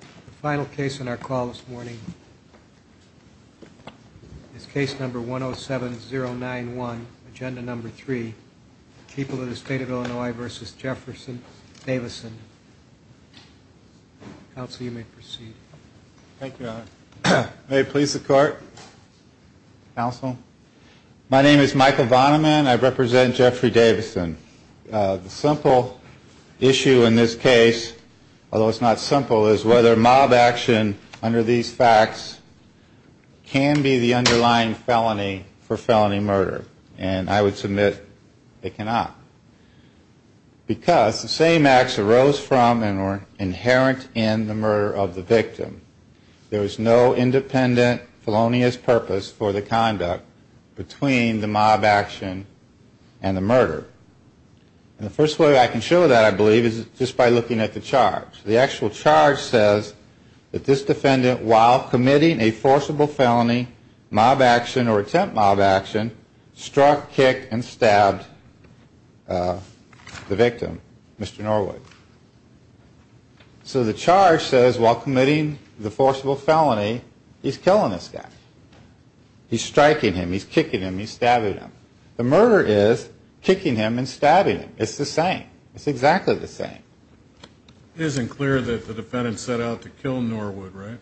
The final case on our call this morning is case number 107091, agenda number 3, People of the State of Illinois v. Jefferson Davison. Counsel, you may proceed. Thank you, Your Honor. May it please the Court? Counsel? My name is Michael Vonneman. I represent Jeffrey Davison. The simple issue in this case, although it's not simple, is whether mob action under these facts can be the underlying felony for felony murder. And I would submit it cannot. Because the same acts arose from and were inherent in the murder of the victim. There is no independent felonious purpose for the conduct between the mob action and the murder. And the first way I can show that, I believe, is just by looking at the charge. The actual charge says that this defendant, while committing a forcible felony mob action or attempt mob action, struck, kicked, and stabbed the victim, Mr. Norwood. So the charge says, while committing the forcible felony, he's killing this guy. He's striking him, he's kicking him, he's stabbing him. The murder is kicking him and stabbing him. It's the same. It's exactly the same. It isn't clear that the defendant set out to kill Norwood, right?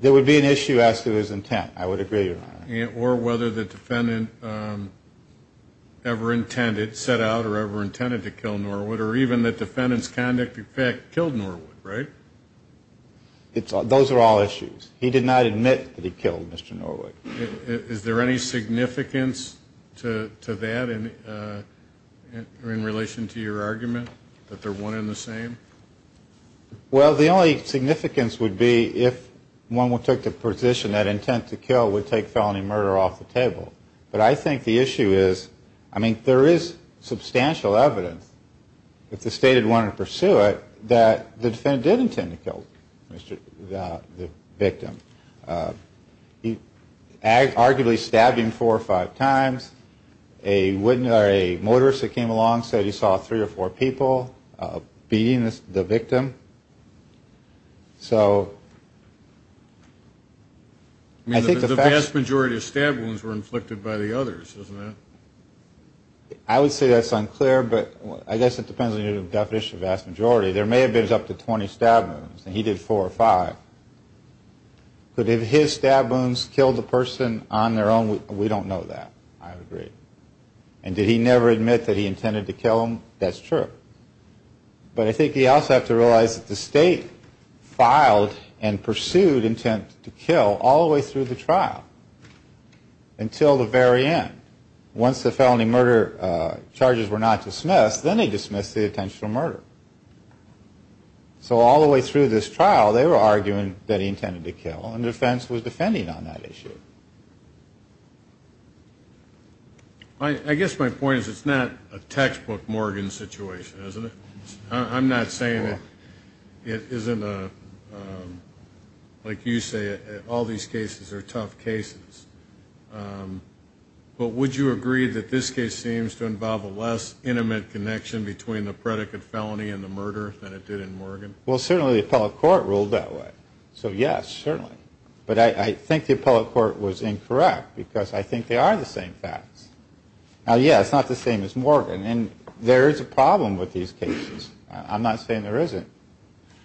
There would be an issue as to his intent. I would agree, Your Honor. Or whether the defendant ever intended, set out or ever intended to kill Norwood, or even that the defendant's conduct, in fact, killed Norwood, right? Those are all issues. He did not admit that he killed Mr. Norwood. Is there any significance to that in relation to your argument, that they're one and the same? Well, the only significance would be if one took the position that intent to kill would take felony murder off the table. But I think the issue is, I mean, there is substantial evidence, if the state had wanted to pursue it, that the defendant did intend to kill the victim. Arguably, stabbing four or five times, a motorist that came along said he saw three or four people beating the victim. So I think the fact... I mean, the vast majority of stab wounds were inflicted by the others, isn't it? I would say that's unclear, but I guess it depends on your definition of vast majority. There may have been up to 20 stab wounds, and he did four or five. But if his stab wounds killed the person on their own, we don't know that, I would agree. And did he never admit that he intended to kill him? That's true. But I think you also have to realize that the state filed and pursued intent to kill all the way through the trial, until the very end. Once the felony murder charges were not dismissed, then they dismissed the intentional murder. So all the way through this trial, they were arguing that he intended to kill, and the defense was defending on that issue. I guess my point is, it's not a textbook Morgan situation, isn't it? I'm not saying it isn't a... Like you say, all these cases are tough cases. But would you agree that this case seems to involve a less intimate connection between the predicate felony and the murder than it did in Morgan? Well, certainly the appellate court ruled that way. So yes, certainly. But I think the appellate court was incorrect, because I think they are the same facts. Now, yeah, it's not the same as Morgan, and there is a problem with these cases. I'm not saying there isn't.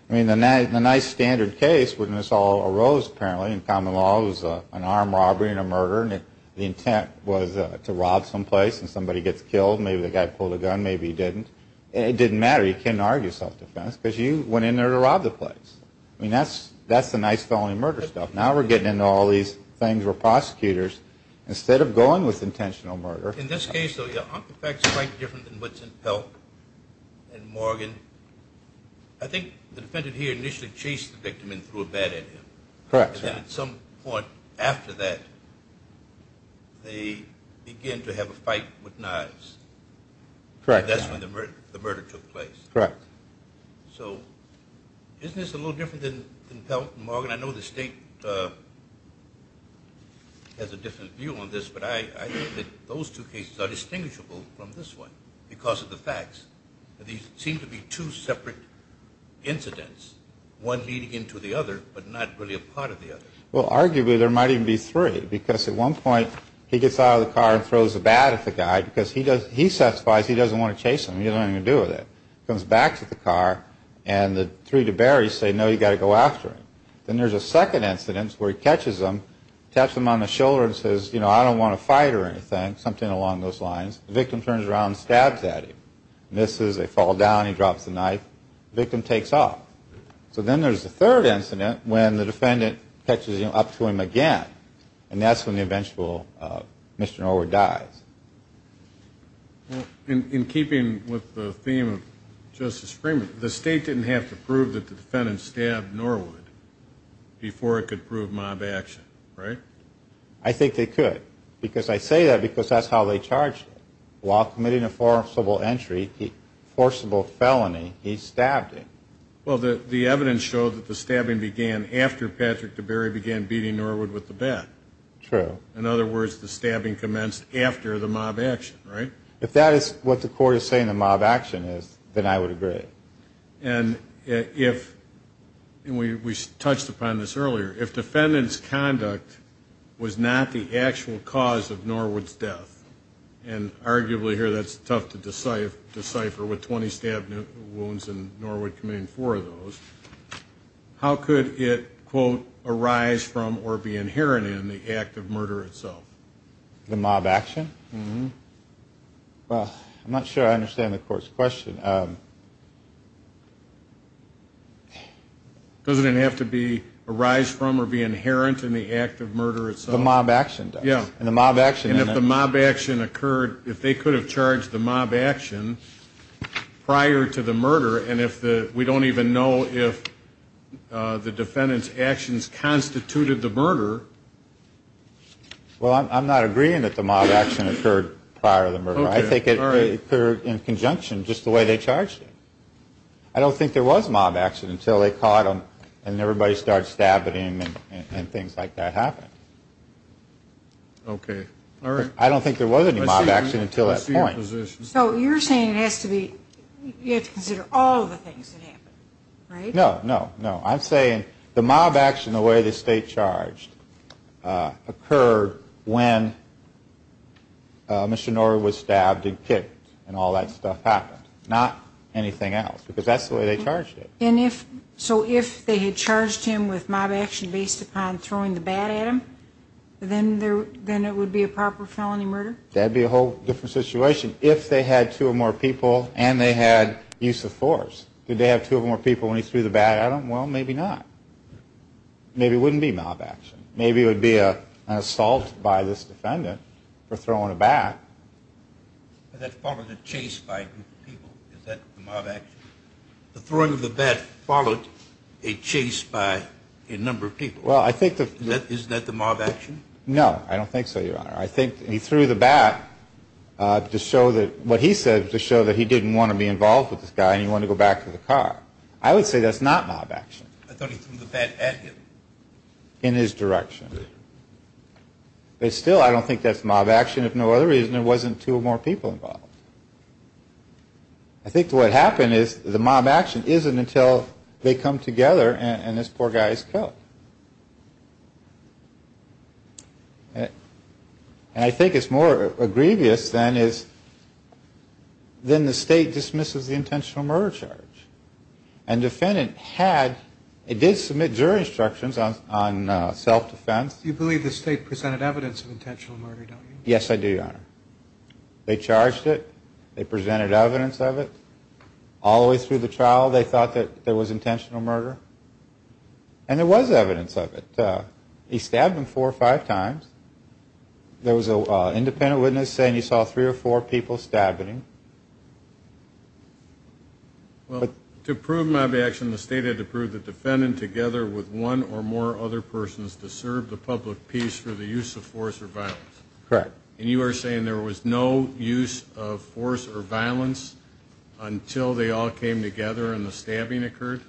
I mean, the nice standard case, when this all arose, apparently, in common law, was an armed robbery and a murder, and the intent was to rob some place, and somebody gets killed. Maybe the guy pulled a gun, maybe he didn't. It didn't matter. You can't argue self-defense, because you went in there to rob the place. I mean, that's the nice felony murder stuff. Now we're getting into all these things where prosecutors, instead of going with intentional murder... I think the defendant here initially chased the victim and threw a bat at him. Correct. And at some point after that, they began to have a fight with knives. Correct. That's when the murder took place. Correct. So isn't this a little different than Pelton and Morgan? I know the State has a different view on this, but I think that those two cases are distinguishable from this one because of the facts. These seem to be two separate incidents, one leading into the other, but not really a part of the other. Well, arguably there might even be three, because at one point he gets out of the car and throws a bat at the guy because he satisfies he doesn't want to chase him. He doesn't have anything to do with it. He comes back to the car, and the three DeBerrys say, no, you've got to go after him. Then there's a second incident where he catches him, taps him on the shoulder and says, you know, I don't want to fight or anything, something along those lines. The victim turns around and stabs at him. Misses. They fall down. He drops the knife. The victim takes off. So then there's a third incident when the defendant catches up to him again, and that's when the eventual Mr. Norwood dies. In keeping with the theme of Justice Freeman, the State didn't have to prove that the defendant stabbed Norwood before it could prove mob action, right? I think they could, because I say that because that's how they charged him. While committing a forcible entry, forcible felony, he stabbed him. Well, the evidence showed that the stabbing began after Patrick DeBerry began beating Norwood with the bat. True. In other words, the stabbing commenced after the mob action, right? If that is what the court is saying the mob action is, then I would agree. And if, and we touched upon this earlier, if defendant's conduct was not the actual cause of Norwood's death, and arguably here that's tough to decipher with 20 stab wounds and Norwood committing four of those, how could it, quote, arise from or be inherent in the act of murder itself? The mob action? Well, I'm not sure I understand the court's question. Doesn't it have to be arise from or be inherent in the act of murder itself? The mob action does. Yeah. And the mob action. And if the mob action occurred, if they could have charged the mob action prior to the murder, and if the, we don't even know if the defendant's actions constituted the murder. Well, I'm not agreeing that the mob action occurred prior to the murder. I think it occurred in conjunction just the way they charged him. I don't think there was a mob action until they caught him and everybody started stabbing him and things like that happened. Okay. All right. I don't think there was any mob action until that point. So you're saying it has to be, you have to consider all the things that happened, right? No, no, no. I'm saying the mob action, the way they stayed charged, occurred when Mr. Norah was stabbed and kicked and all that stuff happened, not anything else, because that's the way they charged him. So if they had charged him with mob action based upon throwing the bat at him, then it would be a proper felony murder? That would be a whole different situation if they had two or more people and they had use of force. Did they have two or more people when he threw the bat at him? Well, maybe not. Maybe it wouldn't be mob action. Maybe it would be an assault by this defendant for throwing a bat. But that followed a chase by people. Is that the mob action? The throwing of the bat followed a chase by a number of people. Is that the mob action? No, I don't think so, Your Honor. I think he threw the bat to show that, that he didn't want to be involved with this guy and he wanted to go back to the car. I would say that's not mob action. I thought he threw the bat at him. In his direction. But still, I don't think that's mob action. If no other reason, there wasn't two or more people involved. I think what happened is the mob action isn't until they come together and this poor guy is killed. And I think it's more egregious than the state dismisses the intentional murder charge. And the defendant had, it did submit jury instructions on self-defense. You believe the state presented evidence of intentional murder, don't you? Yes, I do, Your Honor. They charged it. They presented evidence of it. All the way through the trial, they thought that there was intentional murder. And there was evidence of it. He stabbed him four or five times. There was an independent witness saying he saw three or four people stabbing him. Well, to prove mob action, the state had to prove the defendant together with one or more other persons to serve the public peace for the use of force or violence. Correct. And you are saying there was no use of force or violence until they all came together and the stabbing occurred?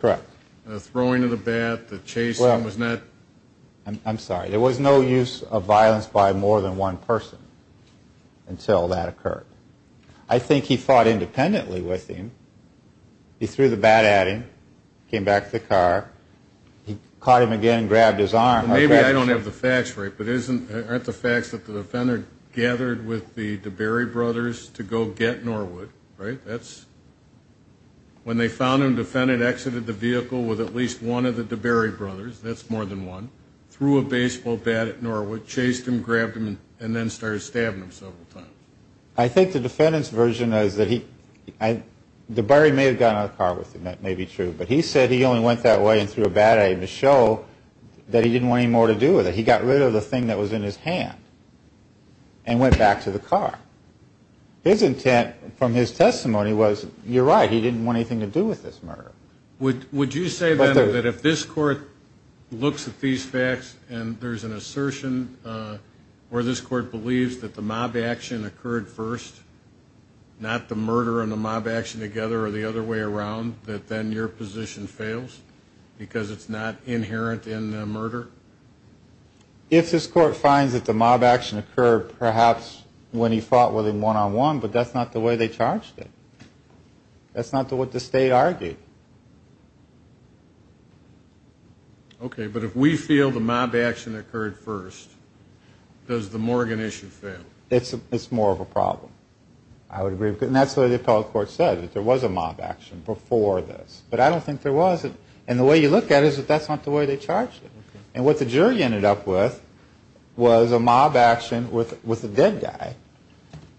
Correct. The throwing of the bat, the chasing was not? I'm sorry. There was no use of violence by more than one person until that occurred. I think he fought independently with him. He threw the bat at him, came back to the car. He caught him again and grabbed his arm. Maybe I don't have the facts right, but aren't the facts that the defendant gathered with the DeBerry brothers to go get Norwood, right? When they found him, the defendant exited the vehicle with at least one of the DeBerry brothers. That's more than one. Threw a baseball bat at Norwood, chased him, grabbed him, and then started stabbing him several times. I think the defendant's version is that DeBerry may have gotten out of the car with him. That may be true. But he said he only went that way and threw a bat at him to show that he didn't want any more to do with it. He got rid of the thing that was in his hand and went back to the car. His intent from his testimony was, you're right, he didn't want anything to do with this murder. Would you say, then, that if this Court looks at these facts and there's an assertion where this Court believes that the mob action occurred first, not the murder and the mob action together or the other way around, that then your position fails because it's not inherent in the murder? If this Court finds that the mob action occurred perhaps when he fought with him one-on-one, but that's not the way they charged it. That's not what the State argued. Okay, but if we feel the mob action occurred first, does the Morgan issue fail? It's more of a problem, I would agree. And that's what the appellate court said, that there was a mob action before this. But I don't think there was. And the way you look at it is that that's not the way they charged it. And what the jury ended up with was a mob action with a dead guy.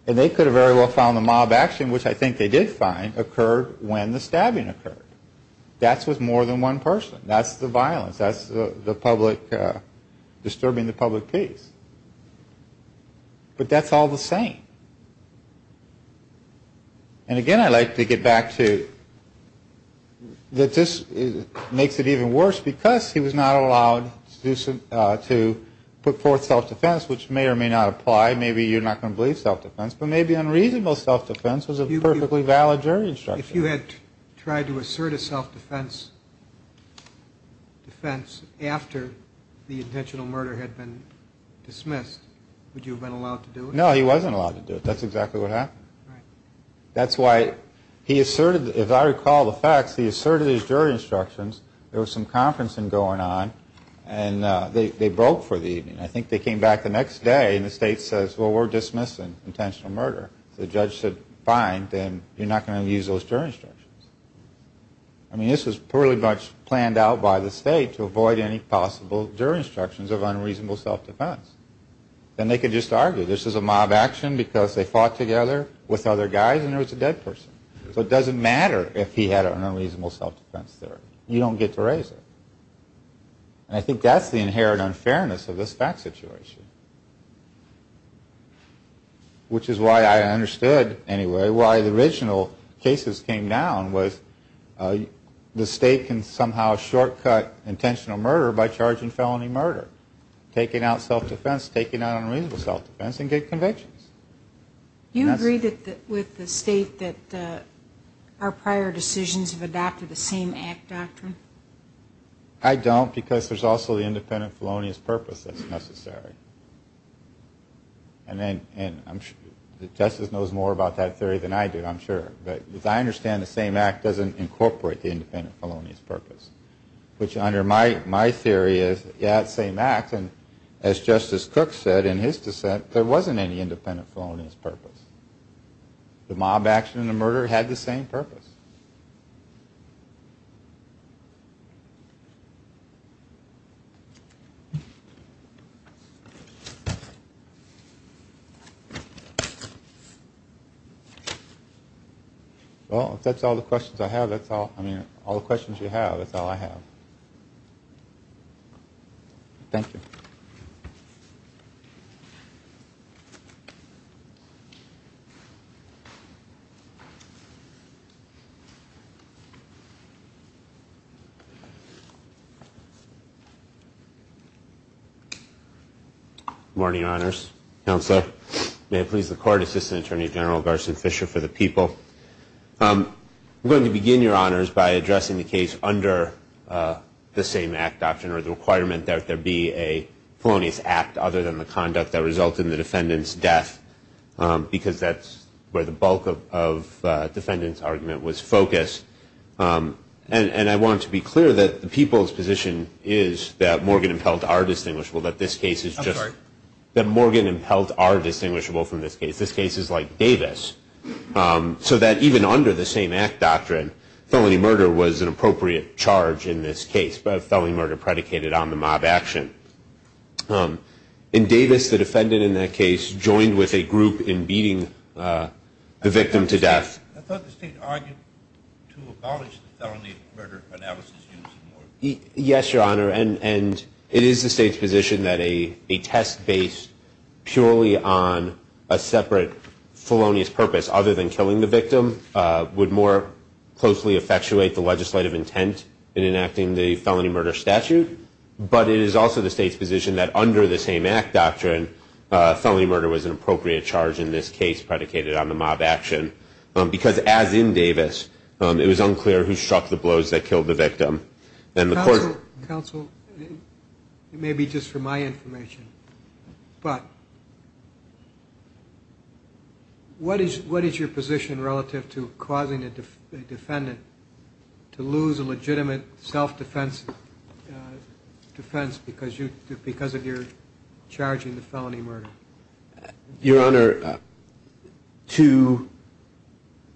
And they could have very well found the mob action, which I think they did find, occurred when the stabbing occurred. That's with more than one person. That's the violence. That's the public disturbing the public peace. But that's all the same. And, again, I'd like to get back to that this makes it even worse because he was not allowed to put forth self-defense, which may or may not apply. Maybe you're not going to believe self-defense, but maybe unreasonable self-defense was a perfectly valid jury instruction. If you had tried to assert a self-defense after the intentional murder had been dismissed, would you have been allowed to do it? No, he wasn't allowed to do it. That's exactly what happened. That's why he asserted, if I recall the facts, he asserted his jury instructions. There was some conferencing going on, and they broke for the evening. I think they came back the next day, and the state says, well, we're dismissing intentional murder. The judge said, fine, then you're not going to use those jury instructions. I mean, this was pretty much planned out by the state to avoid any possible jury instructions of unreasonable self-defense. Then they could just argue this is a mob action because they fought together with other guys and there was a dead person. So it doesn't matter if he had unreasonable self-defense there. You don't get to raise it. And I think that's the inherent unfairness of this fact situation, which is why I understood anyway why the original cases came down was the state can somehow shortcut intentional murder by charging felony murder, taking out self-defense, taking out unreasonable self-defense, and get convictions. Do you agree with the state that our prior decisions have adopted the same act doctrine? I don't because there's also the independent felonious purpose that's necessary. And then Justice knows more about that theory than I do, I'm sure. But as I understand it, the same act doesn't incorporate the independent felonious purpose, which under my theory is, yeah, it's the same act. And as Justice Cook said in his dissent, there wasn't any independent felonious purpose. The mob action and the murder had the same purpose. Well, if that's all the questions I have, that's all. I mean, all the questions you have, that's all I have. Thank you. Thank you. Good morning, Your Honors. Counselor, may it please the Court, Assistant Attorney General Garson Fisher for the people. I'm going to begin, Your Honors, by addressing the case under the same act doctrine or the requirement that there be a felonious act other than the conduct that resulted in the defendant's death because that's where the bulk of the defendant's argument was focused. And I want to be clear that the people's position is that Morgan and Pelt are distinguishable, that this case is just that Morgan and Pelt are distinguishable from this case. This case is like Davis. So that even under the same act doctrine, felony murder was an appropriate charge in this case. But a felony murder predicated on the mob action. In Davis, the defendant in that case joined with a group in beating the victim to death. I thought the state argued to abolish the felony murder analysis. Yes, Your Honor. And it is the state's position that a test based purely on a separate felonious purpose other than killing the victim would more closely effectuate the legislative intent in enacting the felony murder statute. But it is also the state's position that under the same act doctrine, felony murder was an appropriate charge in this case predicated on the mob action. Because as in Davis, it was unclear who struck the blows that killed the victim. Counsel, it may be just for my information, but what is your position relative to causing a defendant to lose a legitimate self-defense defense because of your charging the felony murder? Your Honor, to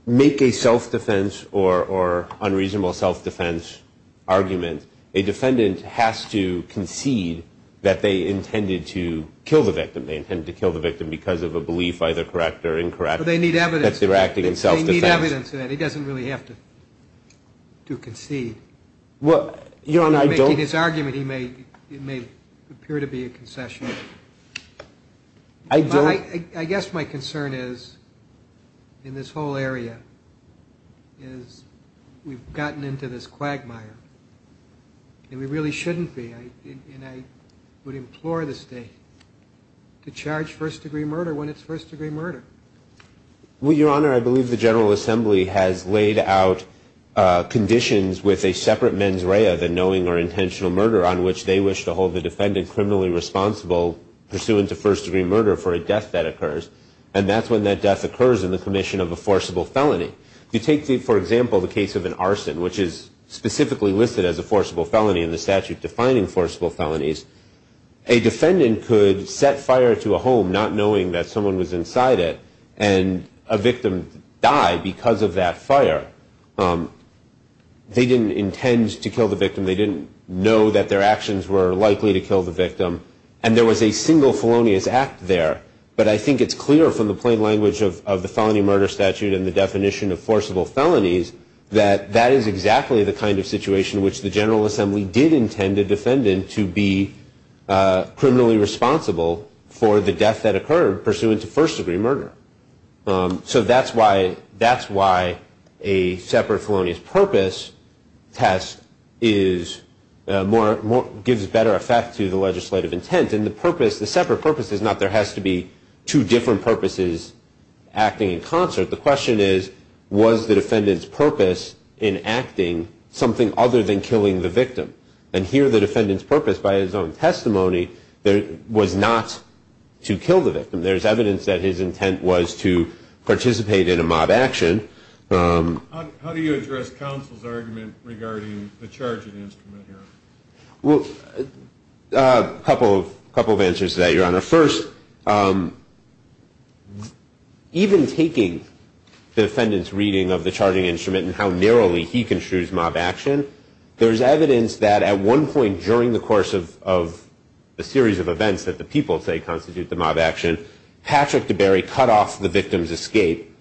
make a self-defense or unreasonable self-defense argument, a defendant has to concede that they intended to kill the victim. They intended to kill the victim because of a belief, either correct or incorrect, that they were acting in self-defense. They need evidence of that. He doesn't really have to concede. In making his argument, it may appear to be a concession. I guess my concern is in this whole area is we've gotten into this quagmire, and we really shouldn't be. And I would implore the state to charge first degree murder when it's first degree murder. Well, Your Honor, I believe the General Assembly has laid out conditions with a separate mens rea than knowing or intentional murder on which they wish to hold the defendant criminally responsible pursuant to first degree murder for a death that occurs. And that's when that death occurs in the commission of a forcible felony. You take, for example, the case of an arson, which is specifically listed as a forcible felony in the statute defining forcible felonies. A defendant could set fire to a home not knowing that someone was inside it, and a victim died because of that fire. They didn't intend to kill the victim. They didn't know that their actions were likely to kill the victim. And there was a single felonious act there. But I think it's clear from the plain language of the felony murder statute and the definition of forcible felonies that that is exactly the kind of situation in which the General Assembly did intend a defendant to be criminally responsible for the death that occurred pursuant to first degree murder. So that's why a separate felonious purpose test gives better effect to the legislative intent. And the purpose, the separate purpose, is not there has to be two different purposes acting in concert. The question is, was the defendant's purpose in acting something other than killing the victim? And here the defendant's purpose by his own testimony was not to kill the victim. There's evidence that his intent was to participate in a mob action. How do you address counsel's argument regarding the charging instrument here? First, even taking the defendant's reading of the charging instrument and how narrowly he construes mob action, there's evidence that at one point during the course of a series of events that the people, say, constitute the mob action, Patrick DeBerry cut off the victim's escape,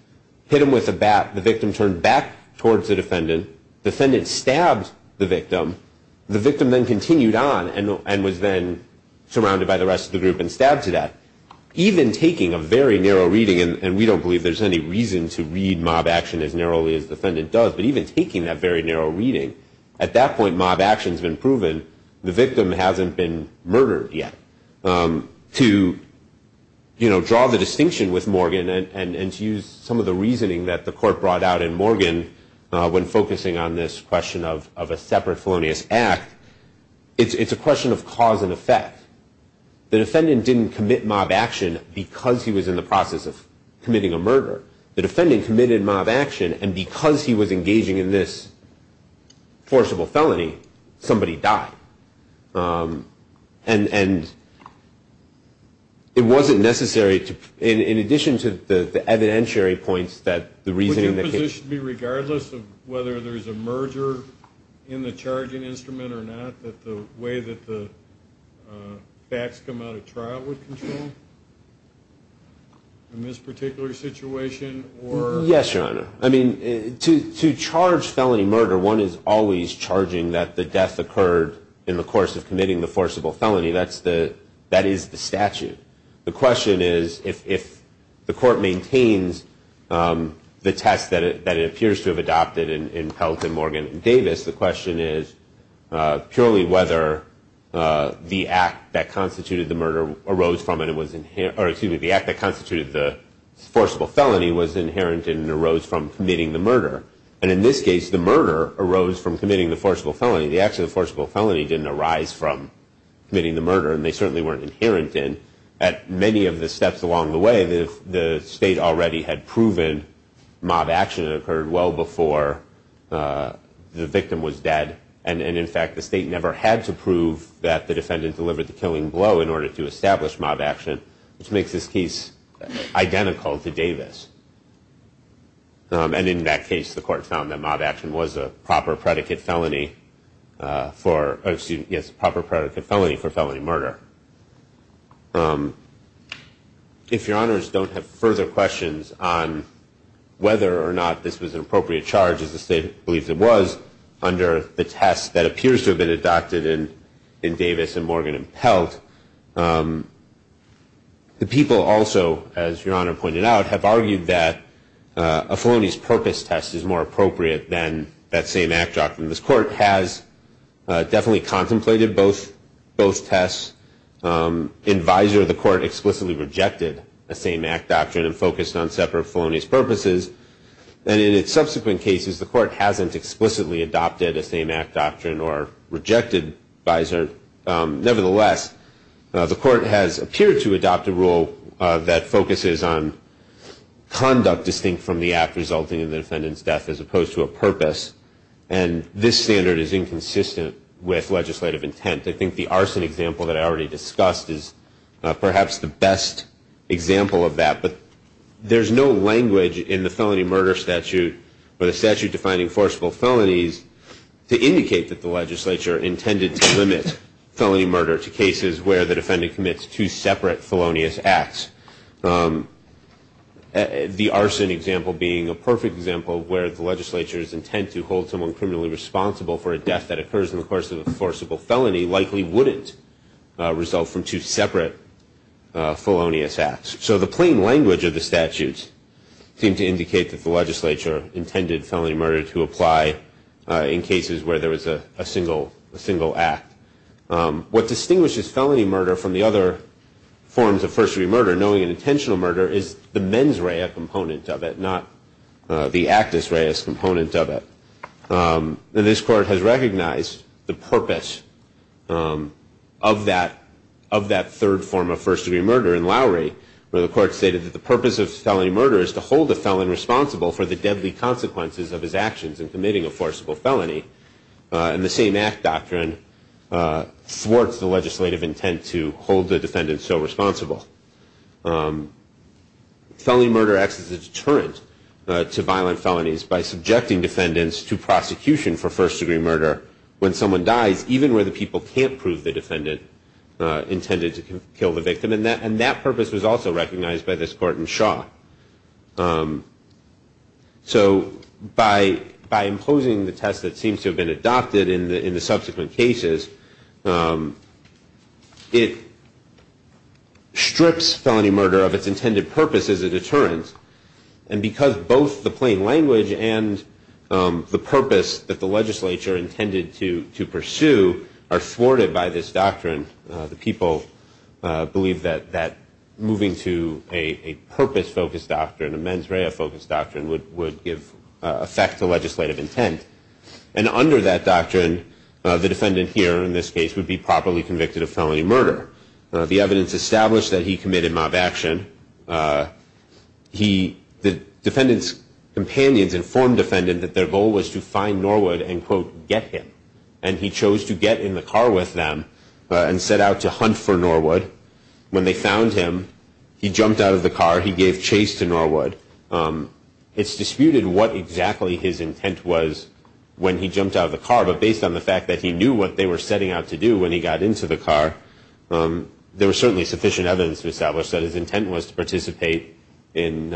hit him with a bat. The victim turned back towards the defendant. The defendant stabbed the victim. The victim then continued on and was then surrounded by the rest of the group and stabbed to death. Even taking a very narrow reading, and we don't believe there's any reason to read mob action as narrowly as the defendant does, but even taking that very narrow reading, at that point mob action's been proven. The victim hasn't been murdered yet. To, you know, draw the distinction with Morgan and to use some of the reasoning that the court brought out in Morgan when focusing on this question of a separate felonious act, it's a question of cause and effect. The defendant didn't commit mob action because he was in the process of committing a murder. The defendant committed mob action, and because he was engaging in this forcible felony, somebody died. And it wasn't necessary to, in addition to the evidentiary points that the reasoning that came out. It should be regardless of whether there's a merger in the charging instrument or not, that the way that the facts come out of trial would control in this particular situation or? Yes, Your Honor. I mean, to charge felony murder, one is always charging that the death occurred in the course of committing the forcible felony. That is the statute. The question is, if the court maintains the test that it appears to have adopted in Pelton, Morgan, and Davis, the question is purely whether the act that constituted the murder arose from and it was inherent, or excuse me, the act that constituted the forcible felony was inherent and arose from committing the murder. And in this case, the murder arose from committing the forcible felony. The act of the forcible felony didn't arise from committing the murder, and they certainly weren't inherent in. At many of the steps along the way, the state already had proven mob action had occurred well before the victim was dead. And in fact, the state never had to prove that the defendant delivered the killing blow in order to establish mob action, And in that case, the court found that mob action was a proper predicate felony for, excuse me, yes, a proper predicate felony for felony murder. If Your Honors don't have further questions on whether or not this was an appropriate charge, as the state believes it was under the test that appears to have been adopted in Davis and Morgan and Pelton, the people also, as Your Honor pointed out, have argued that a felonious purpose test is more appropriate than that same act doctrine. This court has definitely contemplated both tests. In visor, the court explicitly rejected a same act doctrine and focused on separate felonious purposes. And in its subsequent cases, the court hasn't explicitly adopted a same act doctrine or rejected visor. Nevertheless, the court has appeared to adopt a rule that focuses on conduct distinct from the act resulting in the defendant's death as opposed to a purpose. And this standard is inconsistent with legislative intent. I think the arson example that I already discussed is perhaps the best example of that. But there's no language in the felony murder statute or the statute defining forcible felonies to indicate that the legislature intended to limit felony murder to cases where the defendant commits two separate felonious acts. The arson example being a perfect example where the legislature's intent to hold someone criminally responsible for a death that occurs in the course of a forcible felony likely wouldn't result from two separate felonious acts. So the plain language of the statutes seem to indicate that the legislature intended felony murder to apply in cases where there was a single act. What distinguishes felony murder from the other forms of first-degree murder, knowing an intentional murder, is the mens rea component of it, not the actus rea component of it. This court has recognized the purpose of that third form of first-degree murder in Lowry, where the court stated that the purpose of felony murder is to hold the felon responsible for the deadly consequences of his actions in committing a forcible felony. And the same act doctrine thwarts the legislative intent to hold the defendant so responsible. Felony murder acts as a deterrent to violent felonies by subjecting defendants to prosecution for first-degree murder when someone dies, even where the people can't prove the defendant intended to kill the victim. And that purpose was also recognized by this court in Shaw. So by imposing the test that seems to have been adopted in the subsequent cases, it strips felony murder of its intended purpose as a deterrent. And because both the plain language and the purpose that the legislature intended to pursue are thwarted by this doctrine, the people believe that moving to a purpose-focused doctrine, a mens rea-focused doctrine, would give effect to legislative intent. And under that doctrine, the defendant here in this case would be properly convicted of felony murder. The evidence established that he committed mob action. The defendant's companions informed the defendant that their goal was to find Norwood and, quote, get him. And he chose to get in the car with them and set out to hunt for Norwood. When they found him, he jumped out of the car. He gave chase to Norwood. It's disputed what exactly his intent was when he jumped out of the car, but based on the fact that he knew what they were setting out to do when he got into the car, there was certainly sufficient evidence to establish that his intent was to participate in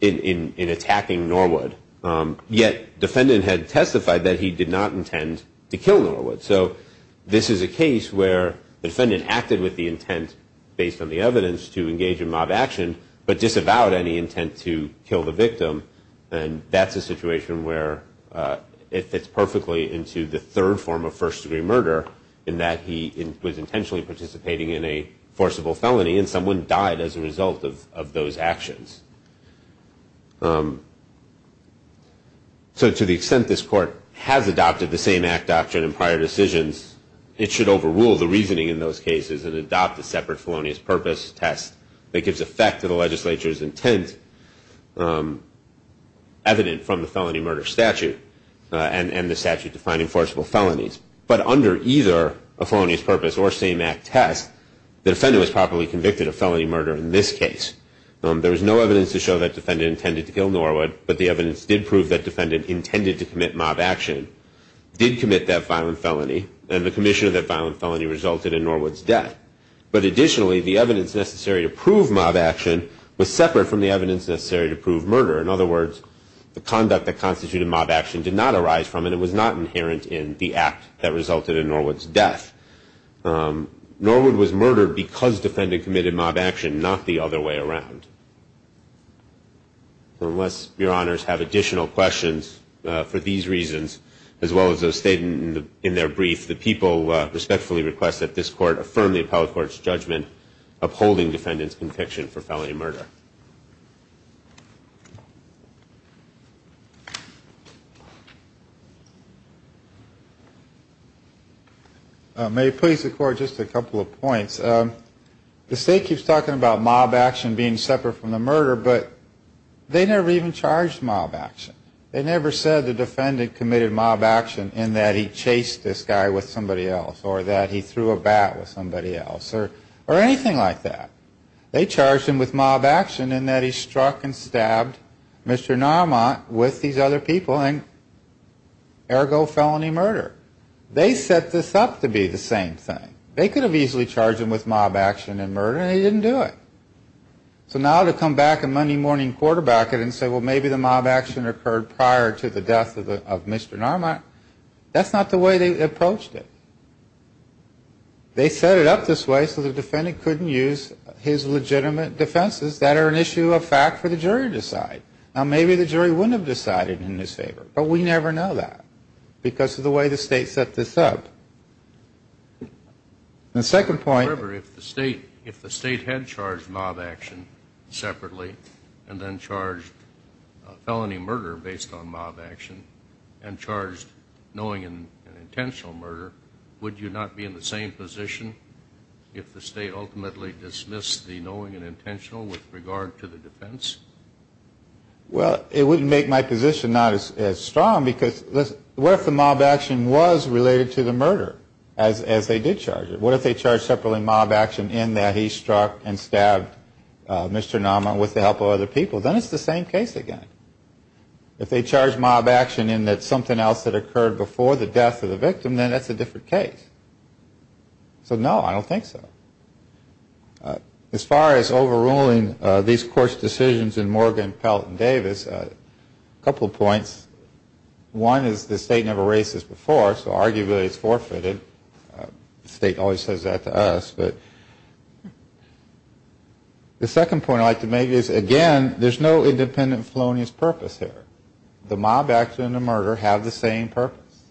attacking Norwood. Yet defendant had testified that he did not intend to kill Norwood. So this is a case where the defendant acted with the intent based on the evidence to engage in mob action but disavowed any intent to kill the victim. And that's a situation where it fits perfectly into the third form of first-degree murder, in that he was intentionally participating in a forcible felony and someone died as a result of those actions. So to the extent this Court has adopted the same Act doctrine in prior decisions, it should overrule the reasoning in those cases and adopt a separate felonious purpose test that gives effect to the legislature's intent evident from the felony murder statute and the statute defining forcible felonies. But under either a felonious purpose or same Act test, the defendant was properly convicted of felony murder in this case. There was no evidence to show that defendant intended to kill Norwood, but the evidence did prove that defendant intended to commit mob action, did commit that violent felony, and the commission of that violent felony resulted in Norwood's death. But additionally, the evidence necessary to prove mob action was separate from the evidence necessary to prove murder. In other words, the conduct that constituted mob action did not arise from and it was not inherent in the Act that resulted in Norwood's death. Norwood was murdered because defendant committed mob action, not the other way around. Unless Your Honors have additional questions for these reasons, as well as those stated in their brief, the people respectfully request that this Court affirm the appellate court's judgment upholding defendant's conviction for felony murder. May it please the Court, just a couple of points. The State keeps talking about mob action being separate from the murder, but they never even charged mob action. They never said the defendant committed mob action in that he chased this guy with somebody else or that he threw a bat with somebody else or anything like that. They charged him with mob action in that he struck and stabbed Mr. Narmont with these other people and ergo felony murder. They set this up to be the same thing. They could have easily charged him with mob action and murder and he didn't do it. So now to come back on Monday morning and quarterback it and say, well, maybe the mob action occurred prior to the death of Mr. Narmont, that's not the way they approached it. They set it up this way so the defendant couldn't use his legitimate defenses that are an issue of fact for the jury to decide. Now, maybe the jury wouldn't have decided in his favor, but we never know that because of the way the State set this up. The second point. However, if the State had charged mob action separately and then charged felony murder based on mob action and charged knowing and intentional murder, would you not be in the same position if the State ultimately dismissed the knowing and intentional with regard to the defense? Well, it wouldn't make my position not as strong because, listen, what if the mob action was related to the murder as they did charge it? What if they charged separately mob action in that he struck and stabbed Mr. Narmont with the help of other people? Then it's the same case again. If they charged mob action in that something else had occurred before the death of the victim, then that's a different case. So no, I don't think so. As far as overruling these court's decisions in Morgan, Pelt, and Davis, a couple of points. One is the State never raised this before, so arguably it's forfeited. The State always says that to us. The second point I'd like to make is, again, there's no independent felonious purpose here. The mob action and the murder have the same purpose.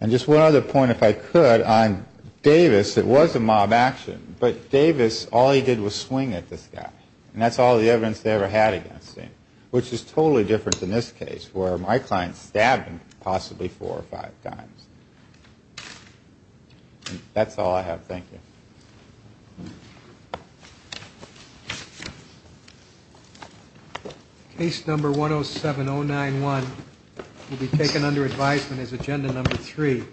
And just one other point if I could on Davis. It was a mob action, but Davis, all he did was swing at this guy. And that's all the evidence they ever had against him, which is totally different than this case where my client stabbed him possibly four or five times. That's all I have. Thank you. Case number 107091 will be taken under advisement as agenda number three.